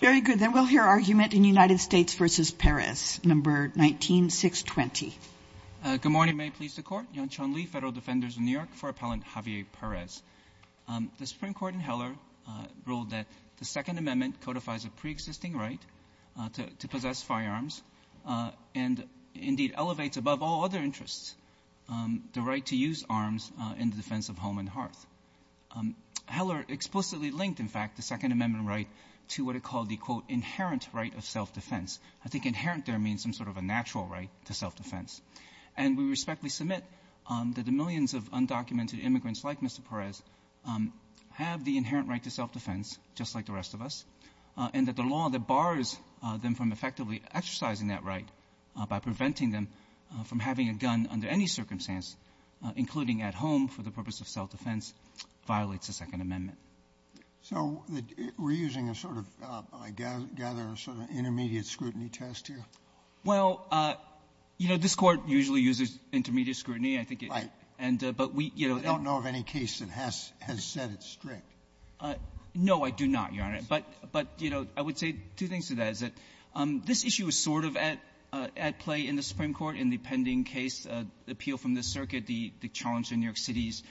Very good. Then we'll hear argument in United States v. Perez, No. 19-620. Good morning. May it please the Court. Yongchun Lee, Federal Defenders of New York for Appellant Javier Perez. The Supreme Court in Heller ruled that the Second Amendment codifies a preexisting right to possess firearms and indeed elevates above all other interests the right to use arms in the defense of home and hearth. Heller explicitly linked, in fact, the Second Amendment right to what it called the, quote, inherent right of self-defense. I think inherent there means some sort of a natural right to self-defense. And we respectfully submit that the millions of undocumented immigrants like Mr. Perez have the inherent right to self-defense, just like the rest of us, and that the law that bars them from effectively exercising that right by preventing them from having a gun under any circumstance, including at home for the purpose of self-defense, violates the Second Amendment. So we're using a sort of, I gather, a sort of intermediate scrutiny test here? Well, you know, this Court usually uses intermediate scrutiny. But we, you know — I don't know of any case that has said it's strict. No, I do not, Your Honor. But, you know, I would say two things to that. One is that this issue is sort of at play in the Supreme Court in the pending case appeal from the circuit, the challenge to New York City's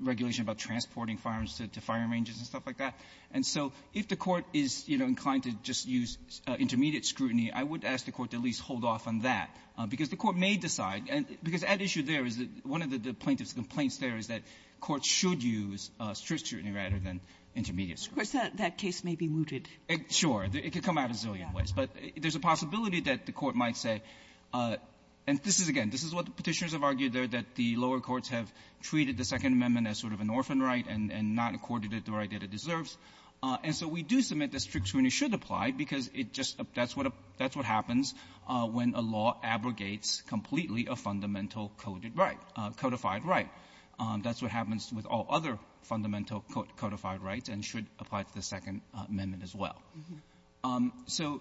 regulation about transporting firearms to fire ranges and stuff like that. And so if the Court is, you know, inclined to just use intermediate scrutiny, I would ask the Court to at least hold off on that because the Court may decide, because at issue there is that one of the plaintiff's But there's a possibility that the Court might say, and this is, again, this is what the Petitioners have argued there, that the lower courts have treated the Second Amendment as sort of an orphan right and not accorded it the right that it deserves. And so we do submit that strict scrutiny should apply because it just — that's what happens when a law abrogates completely a fundamental codified right. That's what happens with all other fundamental codified rights and should apply to the Second Amendment as well. So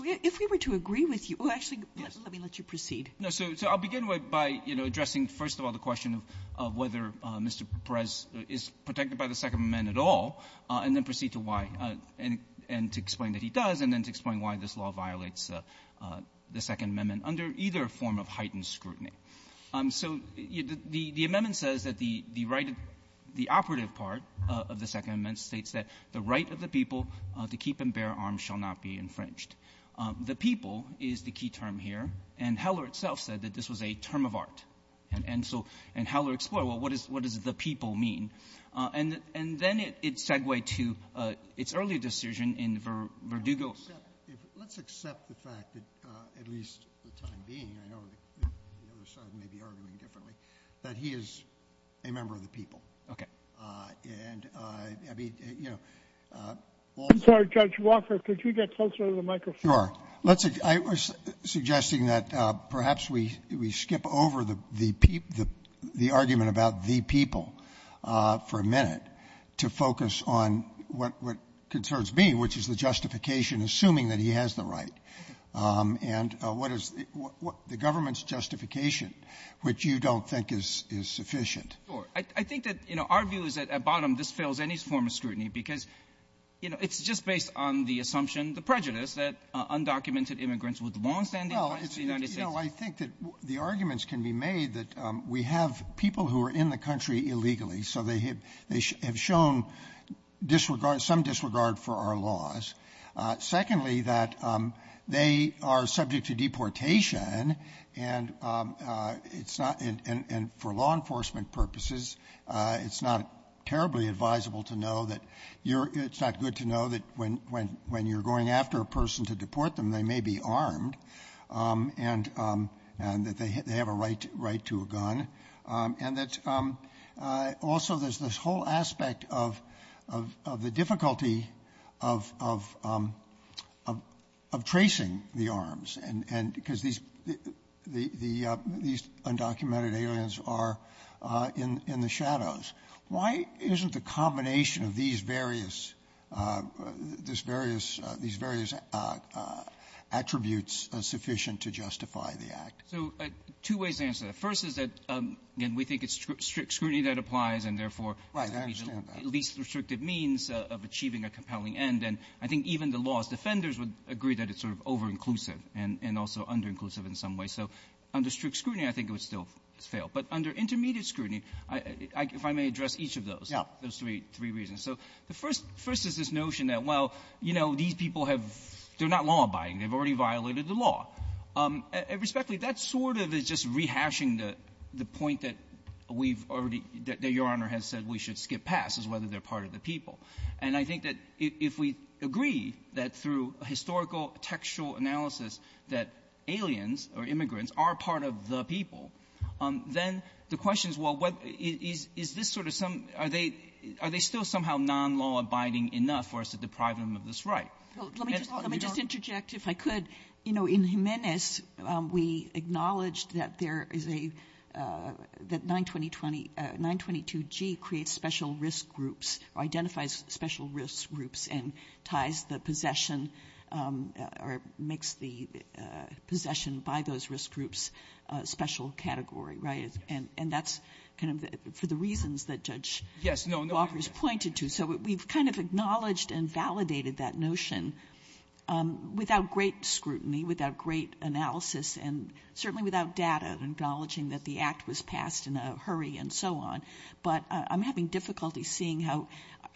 if we were to agree with you — oh, actually, let me let you proceed. No. So I'll begin by, you know, addressing, first of all, the question of whether Mr. Perez is protected by the Second Amendment at all, and then proceed to why, and to explain that he does, and then to explain why this law violates the Second Amendment under either form of heightened scrutiny. So the amendment says that the Second Amendment states that the right of the people to keep and bear arms shall not be infringed. The people is the key term here, and Heller itself said that this was a term of art. And so — and Heller explored, well, what does the people mean? And then it's segued to its earlier decision in Verdugo's. Let's accept the fact that, at least the time being, I know the other side may be arguing differently, that he is a member of the people. Okay. And, I mean, you know, also — I'm sorry, Judge Walker. Could you get closer to the microphone? Sure. I was suggesting that perhaps we skip over the argument about the people for a minute to focus on what concerns me, which is the justification, assuming that he has the right, and what is the government's justification, which you don't think is — is sufficient. Sure. I think that, you know, our view is that, at bottom, this fails any form of scrutiny because, you know, it's just based on the assumption, the prejudice, that undocumented immigrants with longstanding ties to the United States — Well, you know, I think that the arguments can be made that we have people who are in the country illegally, so they have shown disregard, some disregard for our laws. Secondly, that they are subject to deportation, and it's not — and for law enforcement purposes, it's not terribly advisable to know that you're — it's not good to know that when you're going after a person to deport them, they may be armed, and that they have a right to a gun. And that also there's this whole aspect of — of the difficulty of — of tracing the arms and — because these — these undocumented aliens are in the shadows. Why isn't the combination of these various — this various — these various attributes sufficient to justify the act? So two ways to answer that. First is that, again, we think it's strict scrutiny that applies, and therefore — Right. I understand that. At least restrictive means of achieving a compelling end. And I think even the law's defenders would agree that it's sort of over-inclusive and — and also under-inclusive in some way. So under strict scrutiny, I think it would still fail. But under intermediate scrutiny, I — if I may address each of those — Yeah. Those three — three reasons. So the first — first is this notion that, well, you know, these people have — they're not law-abiding. They've already violated the law. Respectfully, that sort of is just rehashing the — the point that we've already — that Your Honor has said we should skip past, is whether they're part of the people. And I think that if we agree that through historical textual analysis that aliens or immigrants are part of the people, then the question is, well, what — is — is this sort of some — are they — are they still somehow non-law-abiding enough for us to deprive them of this right? Well, let me just — let me just interject, if I could. You know, in Jimenez, we acknowledged that there is a — that 922 — 922G creates special risk groups or identifies special risk groups and ties the possession or makes the possession by those risk groups a special category, right? And — and that's kind of the — for Yes. No, no. So we've kind of acknowledged and validated that notion without great scrutiny, without great analysis, and certainly without data, acknowledging that the act was passed in a hurry and so on. But I'm having difficulty seeing how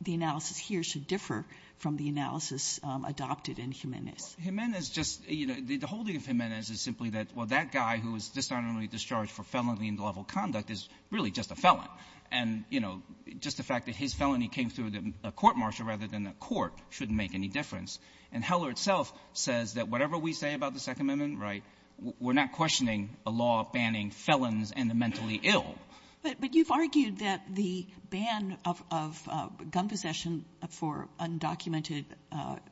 the analysis here should differ from the analysis adopted in Jimenez. Jimenez just — you know, the holding of Jimenez is simply that, well, that guy who was dishonorably discharged for felony-level conduct is really just a felon. And, you know, just the fact that his felony came through a court-martial rather than a court shouldn't make any difference. And Heller itself says that whatever we say about the Second Amendment, right, we're not questioning a law banning felons and the mentally ill. But you've argued that the ban of — of gun possession for undocumented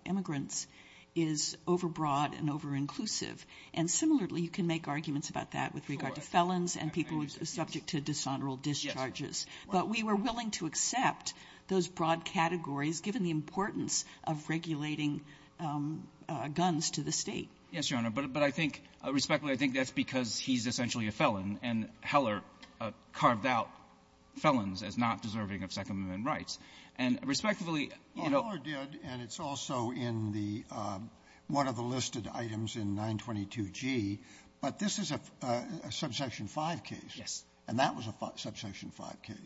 immigrants is overbroad and overinclusive. And similarly, you can make arguments about that with regard to felons and people who are subject to dishonorable discharges. But we were willing to accept those broad categories given the importance of regulating guns to the State. Yes, Your Honor. But I think — respectfully, I think that's because he's essentially a felon, and Heller carved out felons as not deserving of Second Amendment rights. And respectively, you know — Well, Heller did, and it's also in the — one of the listed items in 922G. But this is a Subsection 5 case. Yes. And that was a Subsection 5 case,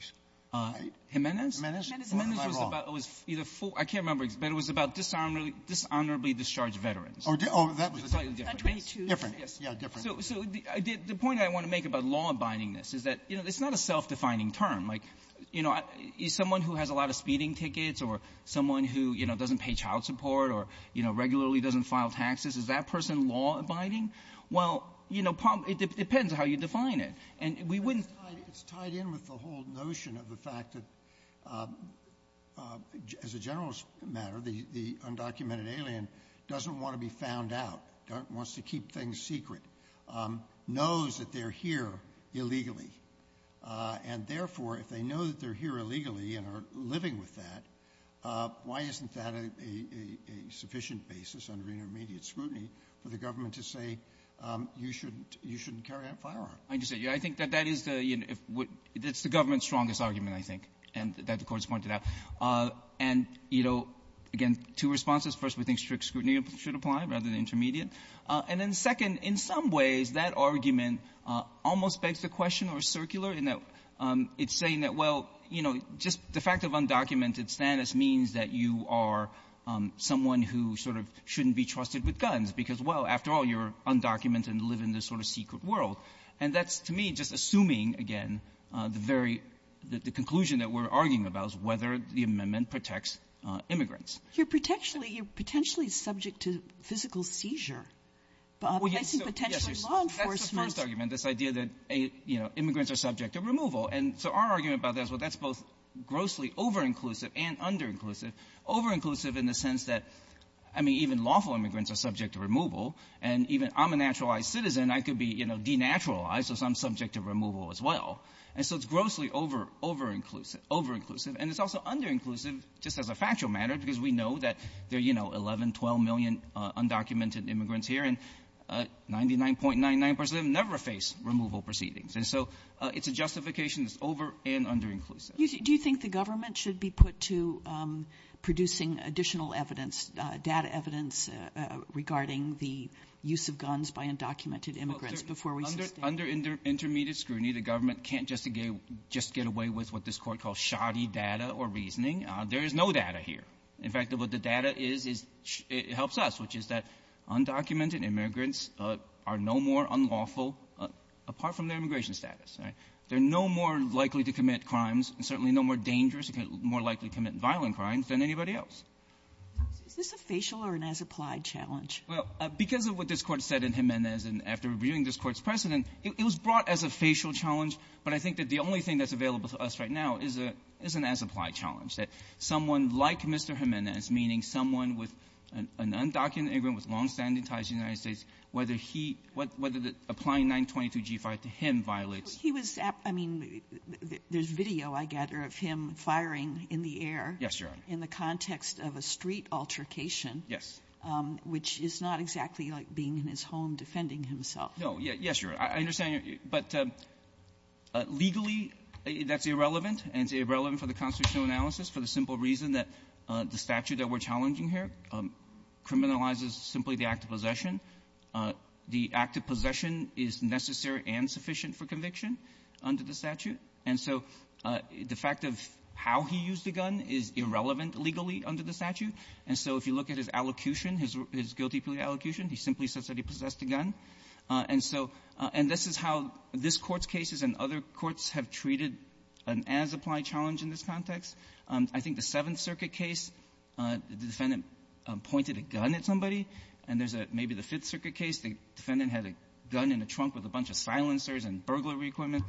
right? Jimenez? Jimenez. Jimenez was about — it was either — I can't remember, but it was about dishonorably discharged veterans. Oh, that was — 922. Different, yes. Yeah, different. So the point I want to make about law-abidingness is that, you know, it's not a self-defining term. Like, you know, someone who has a lot of speeding tickets or someone who, you know, it depends how you define it. And we wouldn't — But it's tied in with the whole notion of the fact that, as a general matter, the undocumented alien doesn't want to be found out, wants to keep things secret, knows that they're here illegally. And therefore, if they know that they're here illegally and are living with that, why isn't that a sufficient basis under intermediate scrutiny for the government to say, you shouldn't — you shouldn't carry out firearm? I understand. Yeah. I think that that is the — that's the government's strongest argument, I think, that the Court's pointed out. And, you know, again, two responses. First, we think strict scrutiny should apply rather than intermediate. And then second, in some ways, that argument almost begs the question or is circular in that it's saying that, well, you know, just the fact of undocumented status means that you are someone who sort of shouldn't be trusted with guns, because, well, after all, you're undocumented and live in this sort of secret world. And that's, to me, just assuming, again, the very — the conclusion that we're arguing about is whether the amendment protects immigrants. You're potentially — you're potentially subject to physical seizure, placing potentially law enforcement — That's the first argument, this idea that, you know, immigrants are subject to removal. And so our argument about that is, well, that's both grossly over-inclusive and under-inclusive. Over-inclusive in the sense that, I mean, even lawful immigrants are subject to removal. And even I'm a naturalized citizen, I could be, you know, denaturalized if I'm subject to removal as well. And so it's grossly over-inclusive. Over-inclusive. And it's also under-inclusive just as a factual matter, because we know that there are, you know, 11, 12 million undocumented immigrants here, and 99.99 percent of them never face removal proceedings. And so it's a justification that's over- and under-inclusive. Do you think the government should be put to producing additional evidence, data evidence regarding the use of guns by undocumented immigrants before we sustain them? Under — under intermediate scrutiny, the government can't just get away with what this Court calls shoddy data or reasoning. There is no data here. In fact, what the data is, it helps us, which is that undocumented immigrants are no more unlawful apart from their immigration status, right? They're no more likely to commit crimes and certainly no more dangerous, more likely to commit violent crimes than anybody else. Is this a facial or an as-applied challenge? Well, because of what this Court said in Jimenez and after reviewing this Court's precedent, it was brought as a facial challenge. But I think that the only thing that's available to us right now is a — is an as-applied challenge, that someone like Mr. Jimenez, meaning someone with an undocumented immigrant with longstanding ties to the United States, whether he — whether the — applying 922g5 to him violates — He was — I mean, there's video, I gather, of him firing in the air. Yes, Your Honor. In the context of a street altercation. Yes. Which is not exactly like being in his home defending himself. No. Yes, Your Honor. I understand. But legally, that's irrelevant, and it's irrelevant for the constitutional analysis for the simple reason that the statute that we're looking at is a gun possession. The act of possession is necessary and sufficient for conviction under the statute. And so the fact of how he used a gun is irrelevant legally under the statute. And so if you look at his allocution, his guilty plea allocution, he simply says that he possessed a gun. And so — and this is how this Court's cases and other courts have treated an as-applied challenge in this context. I think the Seventh Circuit case, the defendant pointed a gun at somebody, and there's a — maybe the Fifth Circuit case, the defendant had a gun in a trunk with a bunch of silencers and burglary equipment.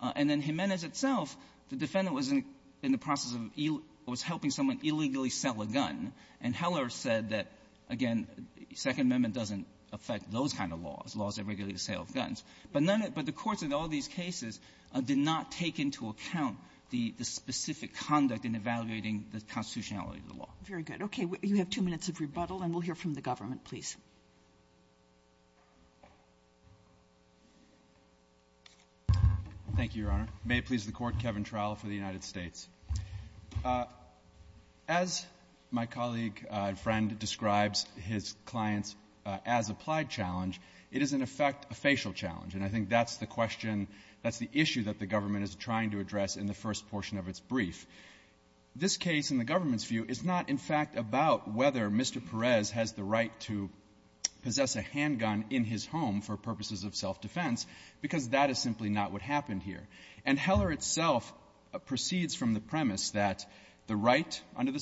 And then Jimenez itself, the defendant was in the process of — was helping someone illegally sell a gun. And Heller said that, again, Second Amendment doesn't affect those kind of laws, laws that regulate the sale of guns. But none of — but the courts in all these cases did not take into account the specific conduct in evaluating the constitutionality of the law. Very good. Okay. You have two minutes of rebuttal, and we'll hear from the government, please. Thank you, Your Honor. May it please the Court, Kevin Trowell for the United States. As my colleague and friend describes his client's as-applied challenge, it is an effect — a facial challenge. And I think that's the question, that's the issue that the government is trying to address in the first portion of its brief. This case, in the government's view, is not, in fact, about whether Mr. Perez has the right to possess a handgun in his home for purposes of self-defense, because that is simply not what happened here. And Heller itself proceeds from the premise that the right under the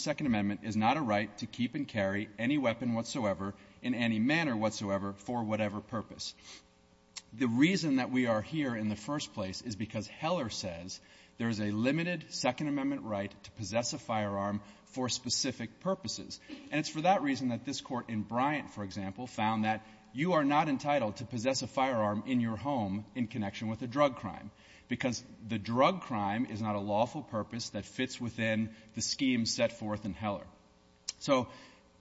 reason that we are here in the first place is because Heller says there is a limited Second Amendment right to possess a firearm for specific purposes. And it's for that reason that this court in Bryant, for example, found that you are not entitled to possess a firearm in your home in connection with a drug crime, because the drug crime is not a lawful purpose that fits within the scheme set forth in Heller. So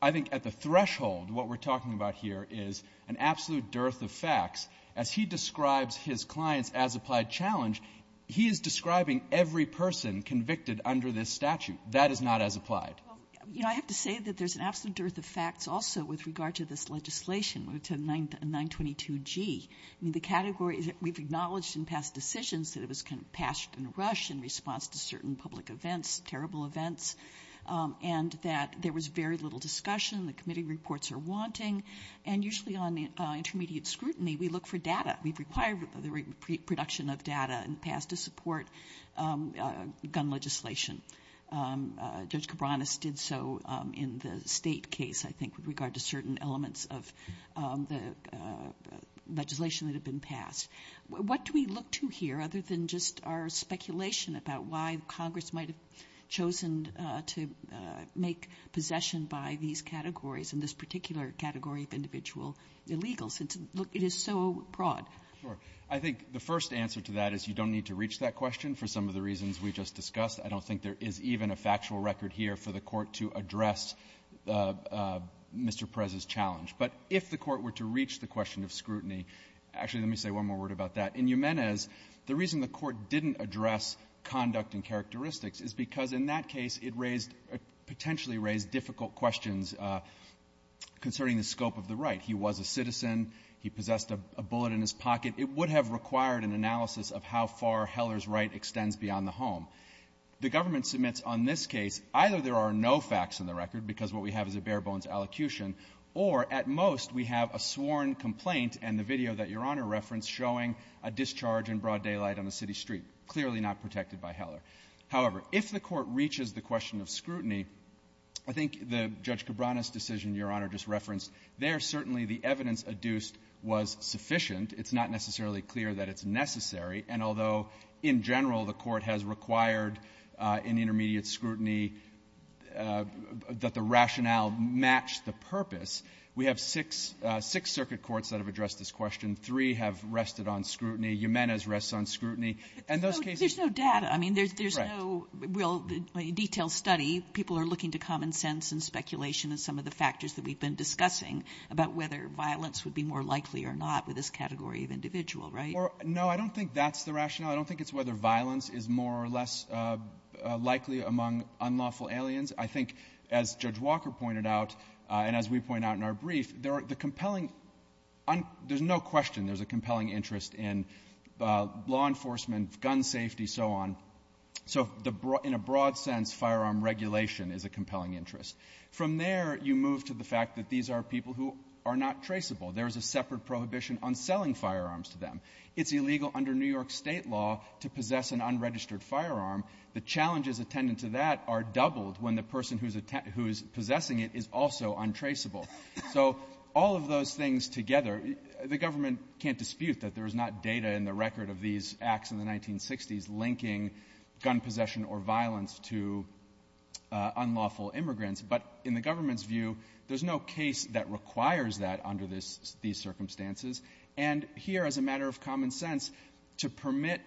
I think at the threshold, what we're talking about here is an absolute dearth of facts. As he describes his client's as-applied challenge, he is describing every person convicted under this statute. That is not as applied. Well, you know, I have to say that there's an absolute dearth of facts also with regard to this legislation, to 922G. I mean, the category — we've acknowledged in past decisions that it was kind of passed in a rush in response to certain public events, terrible events, and that there was very little discussion. The committee reports are wanting. And usually on intermediate scrutiny, we look for data. We've required the reproduction of data in the past to support gun legislation. Judge Cabranes did so in the State case, I think, with regard to certain elements of the legislation that had been passed. But I think it's more than just our speculation about why Congress might have chosen to make possession by these categories, and this particular category of individual illegals. It's — look, it is so broad. Sure. I think the first answer to that is you don't need to reach that question for some of the reasons we just discussed. I don't think there is even a factual record here for the Court to address Mr. Perez's challenge. But if the Court were to reach the question of scrutiny — actually, let me say one more word about that. In Jimenez, the reason the Court didn't address conduct and characteristics is because in that case, it raised — potentially raised difficult questions concerning the scope of the right. He was a citizen. He possessed a bullet in his pocket. It would have required an analysis of how far Heller's right extends beyond the home. The government submits on this case, either there are no facts in the record because what we have is a bare-bones allocution, or at most we have a sworn complaint and the video that broad daylight on a city street, clearly not protected by Heller. However, if the Court reaches the question of scrutiny, I think the Judge Cabrera's decision, Your Honor, just referenced, there certainly the evidence adduced was sufficient. It's not necessarily clear that it's necessary. And although in general the Court has required in intermediate scrutiny that the rationale match the purpose, we have six — six circuit courts that have addressed this question. Three have rested on scrutiny. Jimenez rests on scrutiny. And those cases — But there's no — there's no data. I mean, there's no — Correct. — well, detailed study. People are looking to common sense and speculation and some of the factors that we've been discussing about whether violence would be more likely or not with this category of individual, right? Or — no, I don't think that's the rationale. I don't think it's whether violence is more or less likely among unlawful aliens. I think, as Judge Walker pointed out and as we point out in our brief, there are — the compelling — there's no question there's a compelling interest in law enforcement, gun safety, so on. So in a broad sense, firearm regulation is a compelling interest. From there, you move to the fact that these are people who are not traceable. There is a separate prohibition on selling firearms to them. It's illegal under New York State law to possess an unregistered firearm. The challenges attendant to that are doubled when the person who is possessing it is also untraceable. So all of those things together, the government can't dispute that there is not data in the record of these acts in the 1960s linking gun possession or violence to unlawful immigrants. But in the government's view, there's no case that requires that under these circumstances. And here, as a matter of common sense, to permit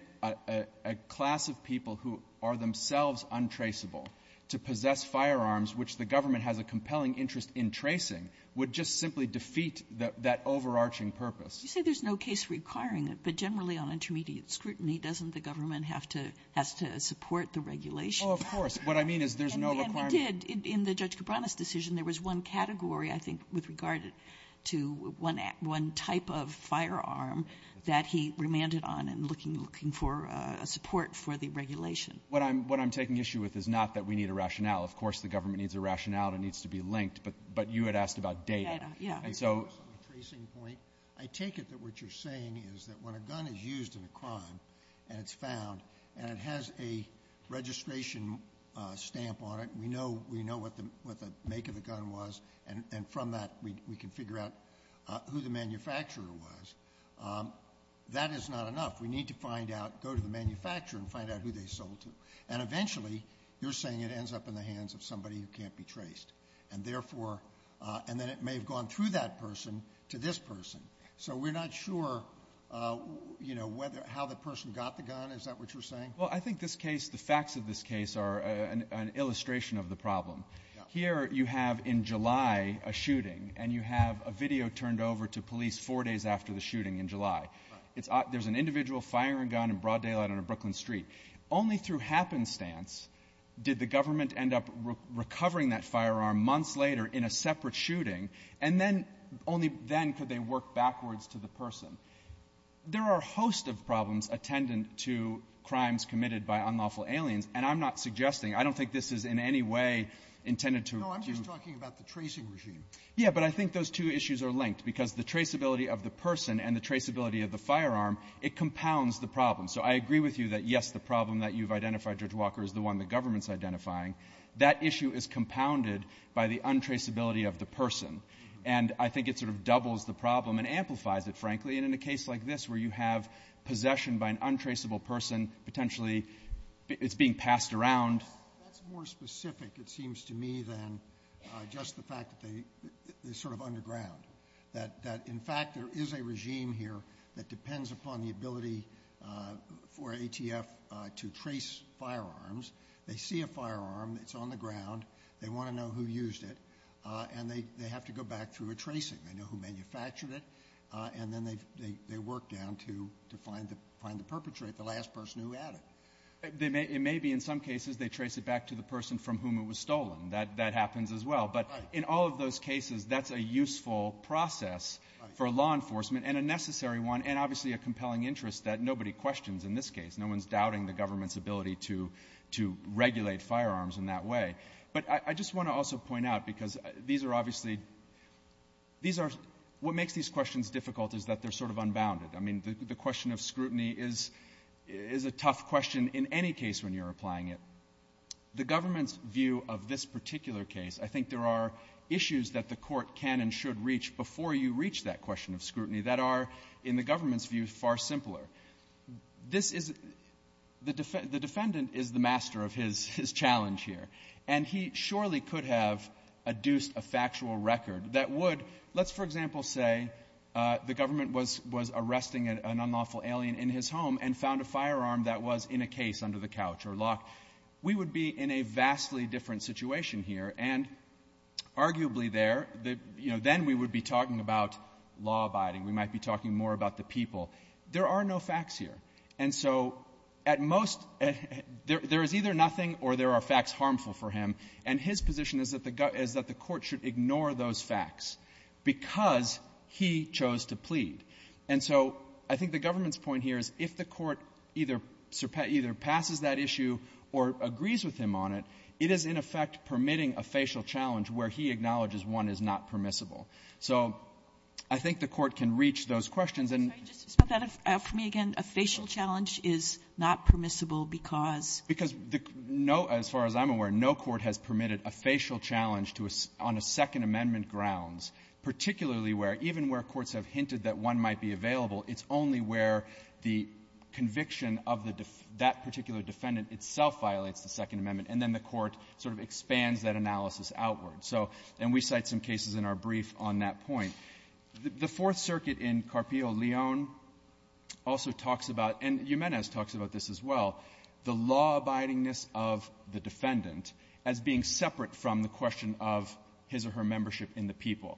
a class of people who are compelling interest in tracing would just simply defeat that overarching purpose. Kagan. You say there's no case requiring it, but generally on intermediate scrutiny, doesn't the government have to — has to support the regulation? Oh, of course. What I mean is there's no requirement. And we did. In the Judge Cabrera's decision, there was one category, I think, with regard to one — one type of firearm that he remanded on in looking — looking for support for the regulation. What I'm — what I'm taking issue with is not that we need a rationale. Of course, the government needs a rationale and it needs to be linked. But you had asked about data. Data, yeah. And so — Just on the tracing point, I take it that what you're saying is that when a gun is used in a crime and it's found and it has a registration stamp on it, we know — we know what the — what the make of the gun was, and from that, we can figure out who the manufacturer was. That is not enough. We need to find out — go to the manufacturer and find out who they sold to. And eventually, you're saying it ends up in the hands of somebody who can't be traced. And therefore — and then it may have gone through that person to this person. So we're not sure, you know, whether — how the person got the gun. Is that what you're saying? Well, I think this case — the facts of this case are an illustration of the problem. Here, you have, in July, a shooting. And you have a video turned over to police four days after the shooting in July. Right. There's an individual firing a gun in broad daylight on a Brooklyn street. Only through happenstance did the government end up recovering that firearm months later in a separate shooting, and then — only then could they work backwards to the person. There are a host of problems attendant to crimes committed by unlawful aliens, and I'm not suggesting — I don't think this is in any way intended to — No, I'm just talking about the tracing regime. Yeah, but I think those two issues are linked, because the traceability of the person and the traceability of the firearm, it compounds the problem. So I agree with you that, yes, the problem that you've identified, Judge Walker, is the one the government's identifying. That issue is compounded by the untraceability of the person. And I think it sort of doubles the problem and amplifies it, frankly. And in a case like this, where you have possession by an untraceable person, potentially it's being passed around — That's more specific, it seems to me, than just the fact that they — they're sort of underground. That, in fact, there is a regime here that depends upon the ability for ATF to trace firearms. They see a firearm. It's on the ground. They want to know who used it. And they have to go back through a tracing. They know who manufactured it. And then they work down to find the perpetrator, the last person who had it. It may be in some cases they trace it back to the person from whom it was stolen. That happens as well. But in all of those cases, that's a useful process for law enforcement and a necessary one and obviously a compelling interest that nobody questions in this case. No one's doubting the government's ability to regulate firearms in that way. But I just want to also point out, because these are obviously — what makes these questions difficult is that they're sort of unbounded. I mean, the question of scrutiny is a tough question in any case when you're applying it. The government's view of this particular case, I think there are issues that the court can and should reach before you reach that question of scrutiny that are, in the government's view, far simpler. This is — the defendant is the master of his challenge here. And he surely could have adduced a factual record that would — let's, for example, say the government was arresting an unlawful alien in his home and found a firearm that was in a case under the couch or lock. We would be in a vastly different situation here. And arguably there, you know, then we would be talking about law-abiding. We might be talking more about the people. There are no facts here. And so at most, there is either nothing or there are facts harmful for him. And his position is that the court should ignore those facts because he chose to plead. And so I think the government's point here is if the court either — either passes that issue or agrees with him on it, it is, in effect, permitting a facial challenge where he acknowledges one is not permissible. So I think the court can reach those questions and — Kagan. A facial challenge is not permissible because — Because no — as far as I'm aware, no court has permitted a facial challenge to a — on a Second Amendment grounds, particularly where — even where courts have hinted that one might be available, it's only where the conviction of the — that particular defendant itself violates the Second Amendment, and then the court sort of expands that analysis outward. So — and we cite some cases in our brief on that point. The Fourth Circuit in Carpio Leon also talks about — and Jimenez talks about this as well — the law-abidingness of the defendant as being separate from the question of his or her membership in the people.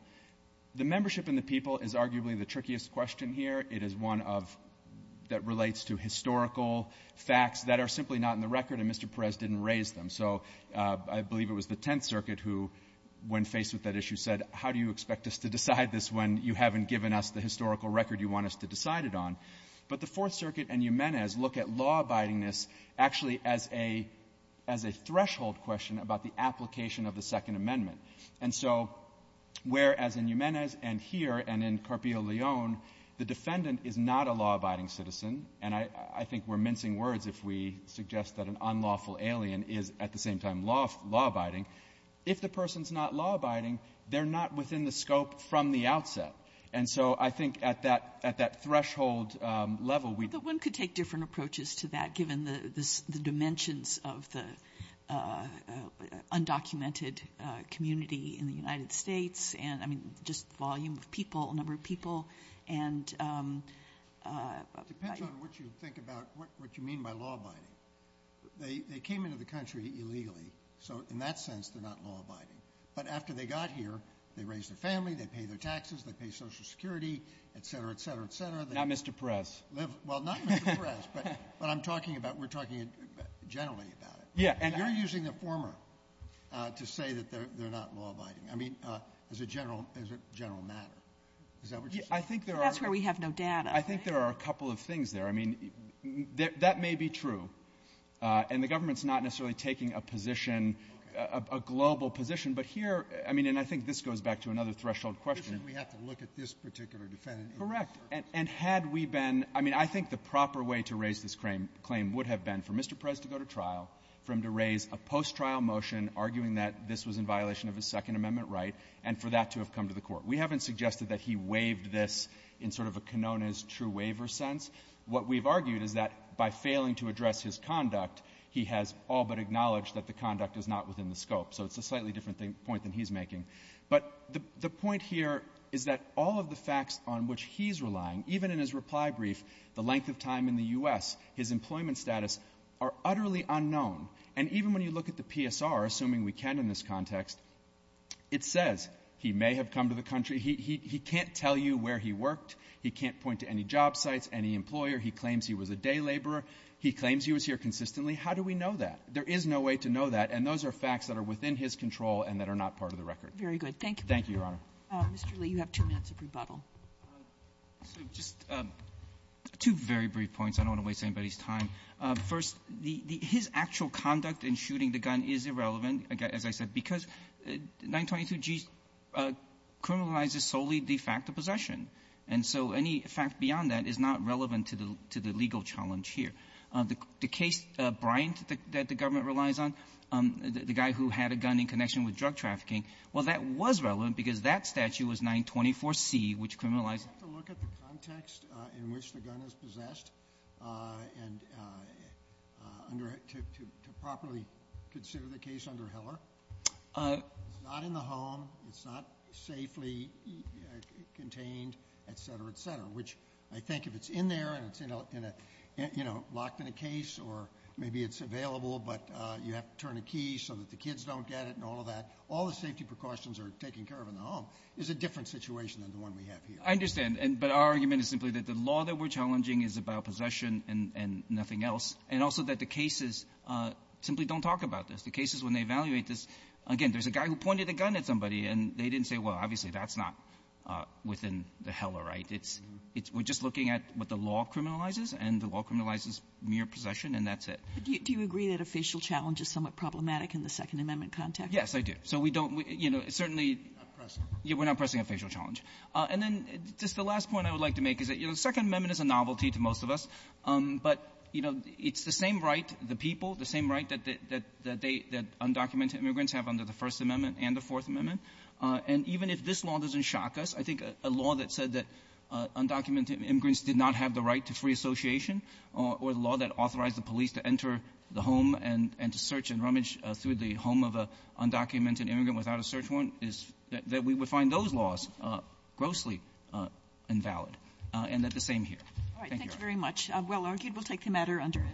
The membership in the people is arguably the trickiest question here. It is one of — that relates to historical facts that are simply not in the record, and Mr. Perez didn't raise them. So I believe it was the Tenth Circuit who, when faced with that issue, said, how do you expect us to decide this when you haven't given us the historical record you want us to decide it on? But the Fourth Circuit and Jimenez look at law-abidingness actually as a — as a threshold question about the application of the Second Amendment. And so whereas in Jimenez and here and in Carpio Leon, the defendant is not a law-abiding citizen, and I — I think we're mincing words if we suggest that an unlawful alien is at the same time law-abiding, if the person's not law-abiding, they're not within the scope from the outset. And so I think at that — at that threshold level, we — But one could take different approaches to that, given the — the dimensions of the undocumented community in the United States and, I mean, just the volume of people, number of people, and — So in that sense, they're not law-abiding. But after they got here, they raised their family, they pay their taxes, they pay Social Security, et cetera, et cetera, et cetera. Not Mr. Perez. Well, not Mr. Perez, but I'm talking about — we're talking generally about it. Yeah. And you're using the former to say that they're — they're not law-abiding. I mean, as a general — as a general matter. Is that what you're saying? I think there are — Okay. But here — I mean, and I think this goes back to another threshold question. We have to look at this particular defendant. Correct. And had we been — I mean, I think the proper way to raise this claim would have been for Mr. Perez to go to trial, for him to raise a post-trial motion arguing that this was in violation of his Second Amendment right, and for that to have come to the Court. We haven't suggested that he waived this in sort of a cononis, true waiver sense. What we've argued is that by failing to address his conduct, he has all but acknowledged that the conduct is not within the scope. So it's a slightly different thing — point than he's making. But the — the point here is that all of the facts on which he's relying, even in his reply brief, the length of time in the U.S., his employment status, are utterly unknown. And even when you look at the PSR, assuming we can in this context, it says he may have come to the country — he — he can't tell you where he worked. He can't point to any job sites, any employer. He claims he was a day laborer. He claims he was here consistently. How do we know that? There is no way to know that, and those are facts that are within his control and that are not part of the record. Very good. Thank you. Thank you, Your Honor. Mr. Lee, you have two minutes of rebuttal. So just two very brief points. I don't want to waste anybody's time. First, the — his actual conduct in shooting the gun is irrelevant, as I said, because 922G criminalizes solely the fact of possession. And so any fact beyond that is not relevant to the — to the legal challenge here. The case, Bryant, that the government relies on, the guy who had a gun in connection with drug trafficking, well, that was relevant because that statute was 924C, which criminalized — You have to look at the context in which the gun is possessed and — under — to properly consider the case under Heller. It's not in the home. It's not safely contained, et cetera, et cetera, which I think if it's in there and it's in a — in a — locked in a case or maybe it's available but you have to turn a key so that the kids don't get it and all of that, all the safety precautions are taken care of in the home. It's a different situation than the one we have here. I understand. But our argument is simply that the law that we're challenging is about possession and nothing else, and also that the cases simply don't talk about this. The cases, when they evaluate this — again, there's a guy who pointed a gun at somebody, and they didn't say, well, obviously that's not within the Heller, right? It's — we're just looking at what the law criminalizes, and the law criminalizes mere possession, and that's it. But do you agree that a facial challenge is somewhat problematic in the Second Amendment context? Yes, I do. So we don't — you know, certainly — We're not pressing. We're not pressing a facial challenge. And then just the last point I would like to make is that, you know, the Second Amendment is a novelty to most of us, but, you know, it's the same right, the people, the same right that they — that undocumented immigrants have under the First Amendment and the Fourth Amendment. And even if this law doesn't shock us, I think a law that said that undocumented immigrants did not have the right to free association or the law that authorized the police to enter the home and to search and rummage through the home of an undocumented immigrant without a search warrant is — that we would find those laws grossly invalid, and that's the same here. All right. Thank you very much. Well argued. We'll take the matter under —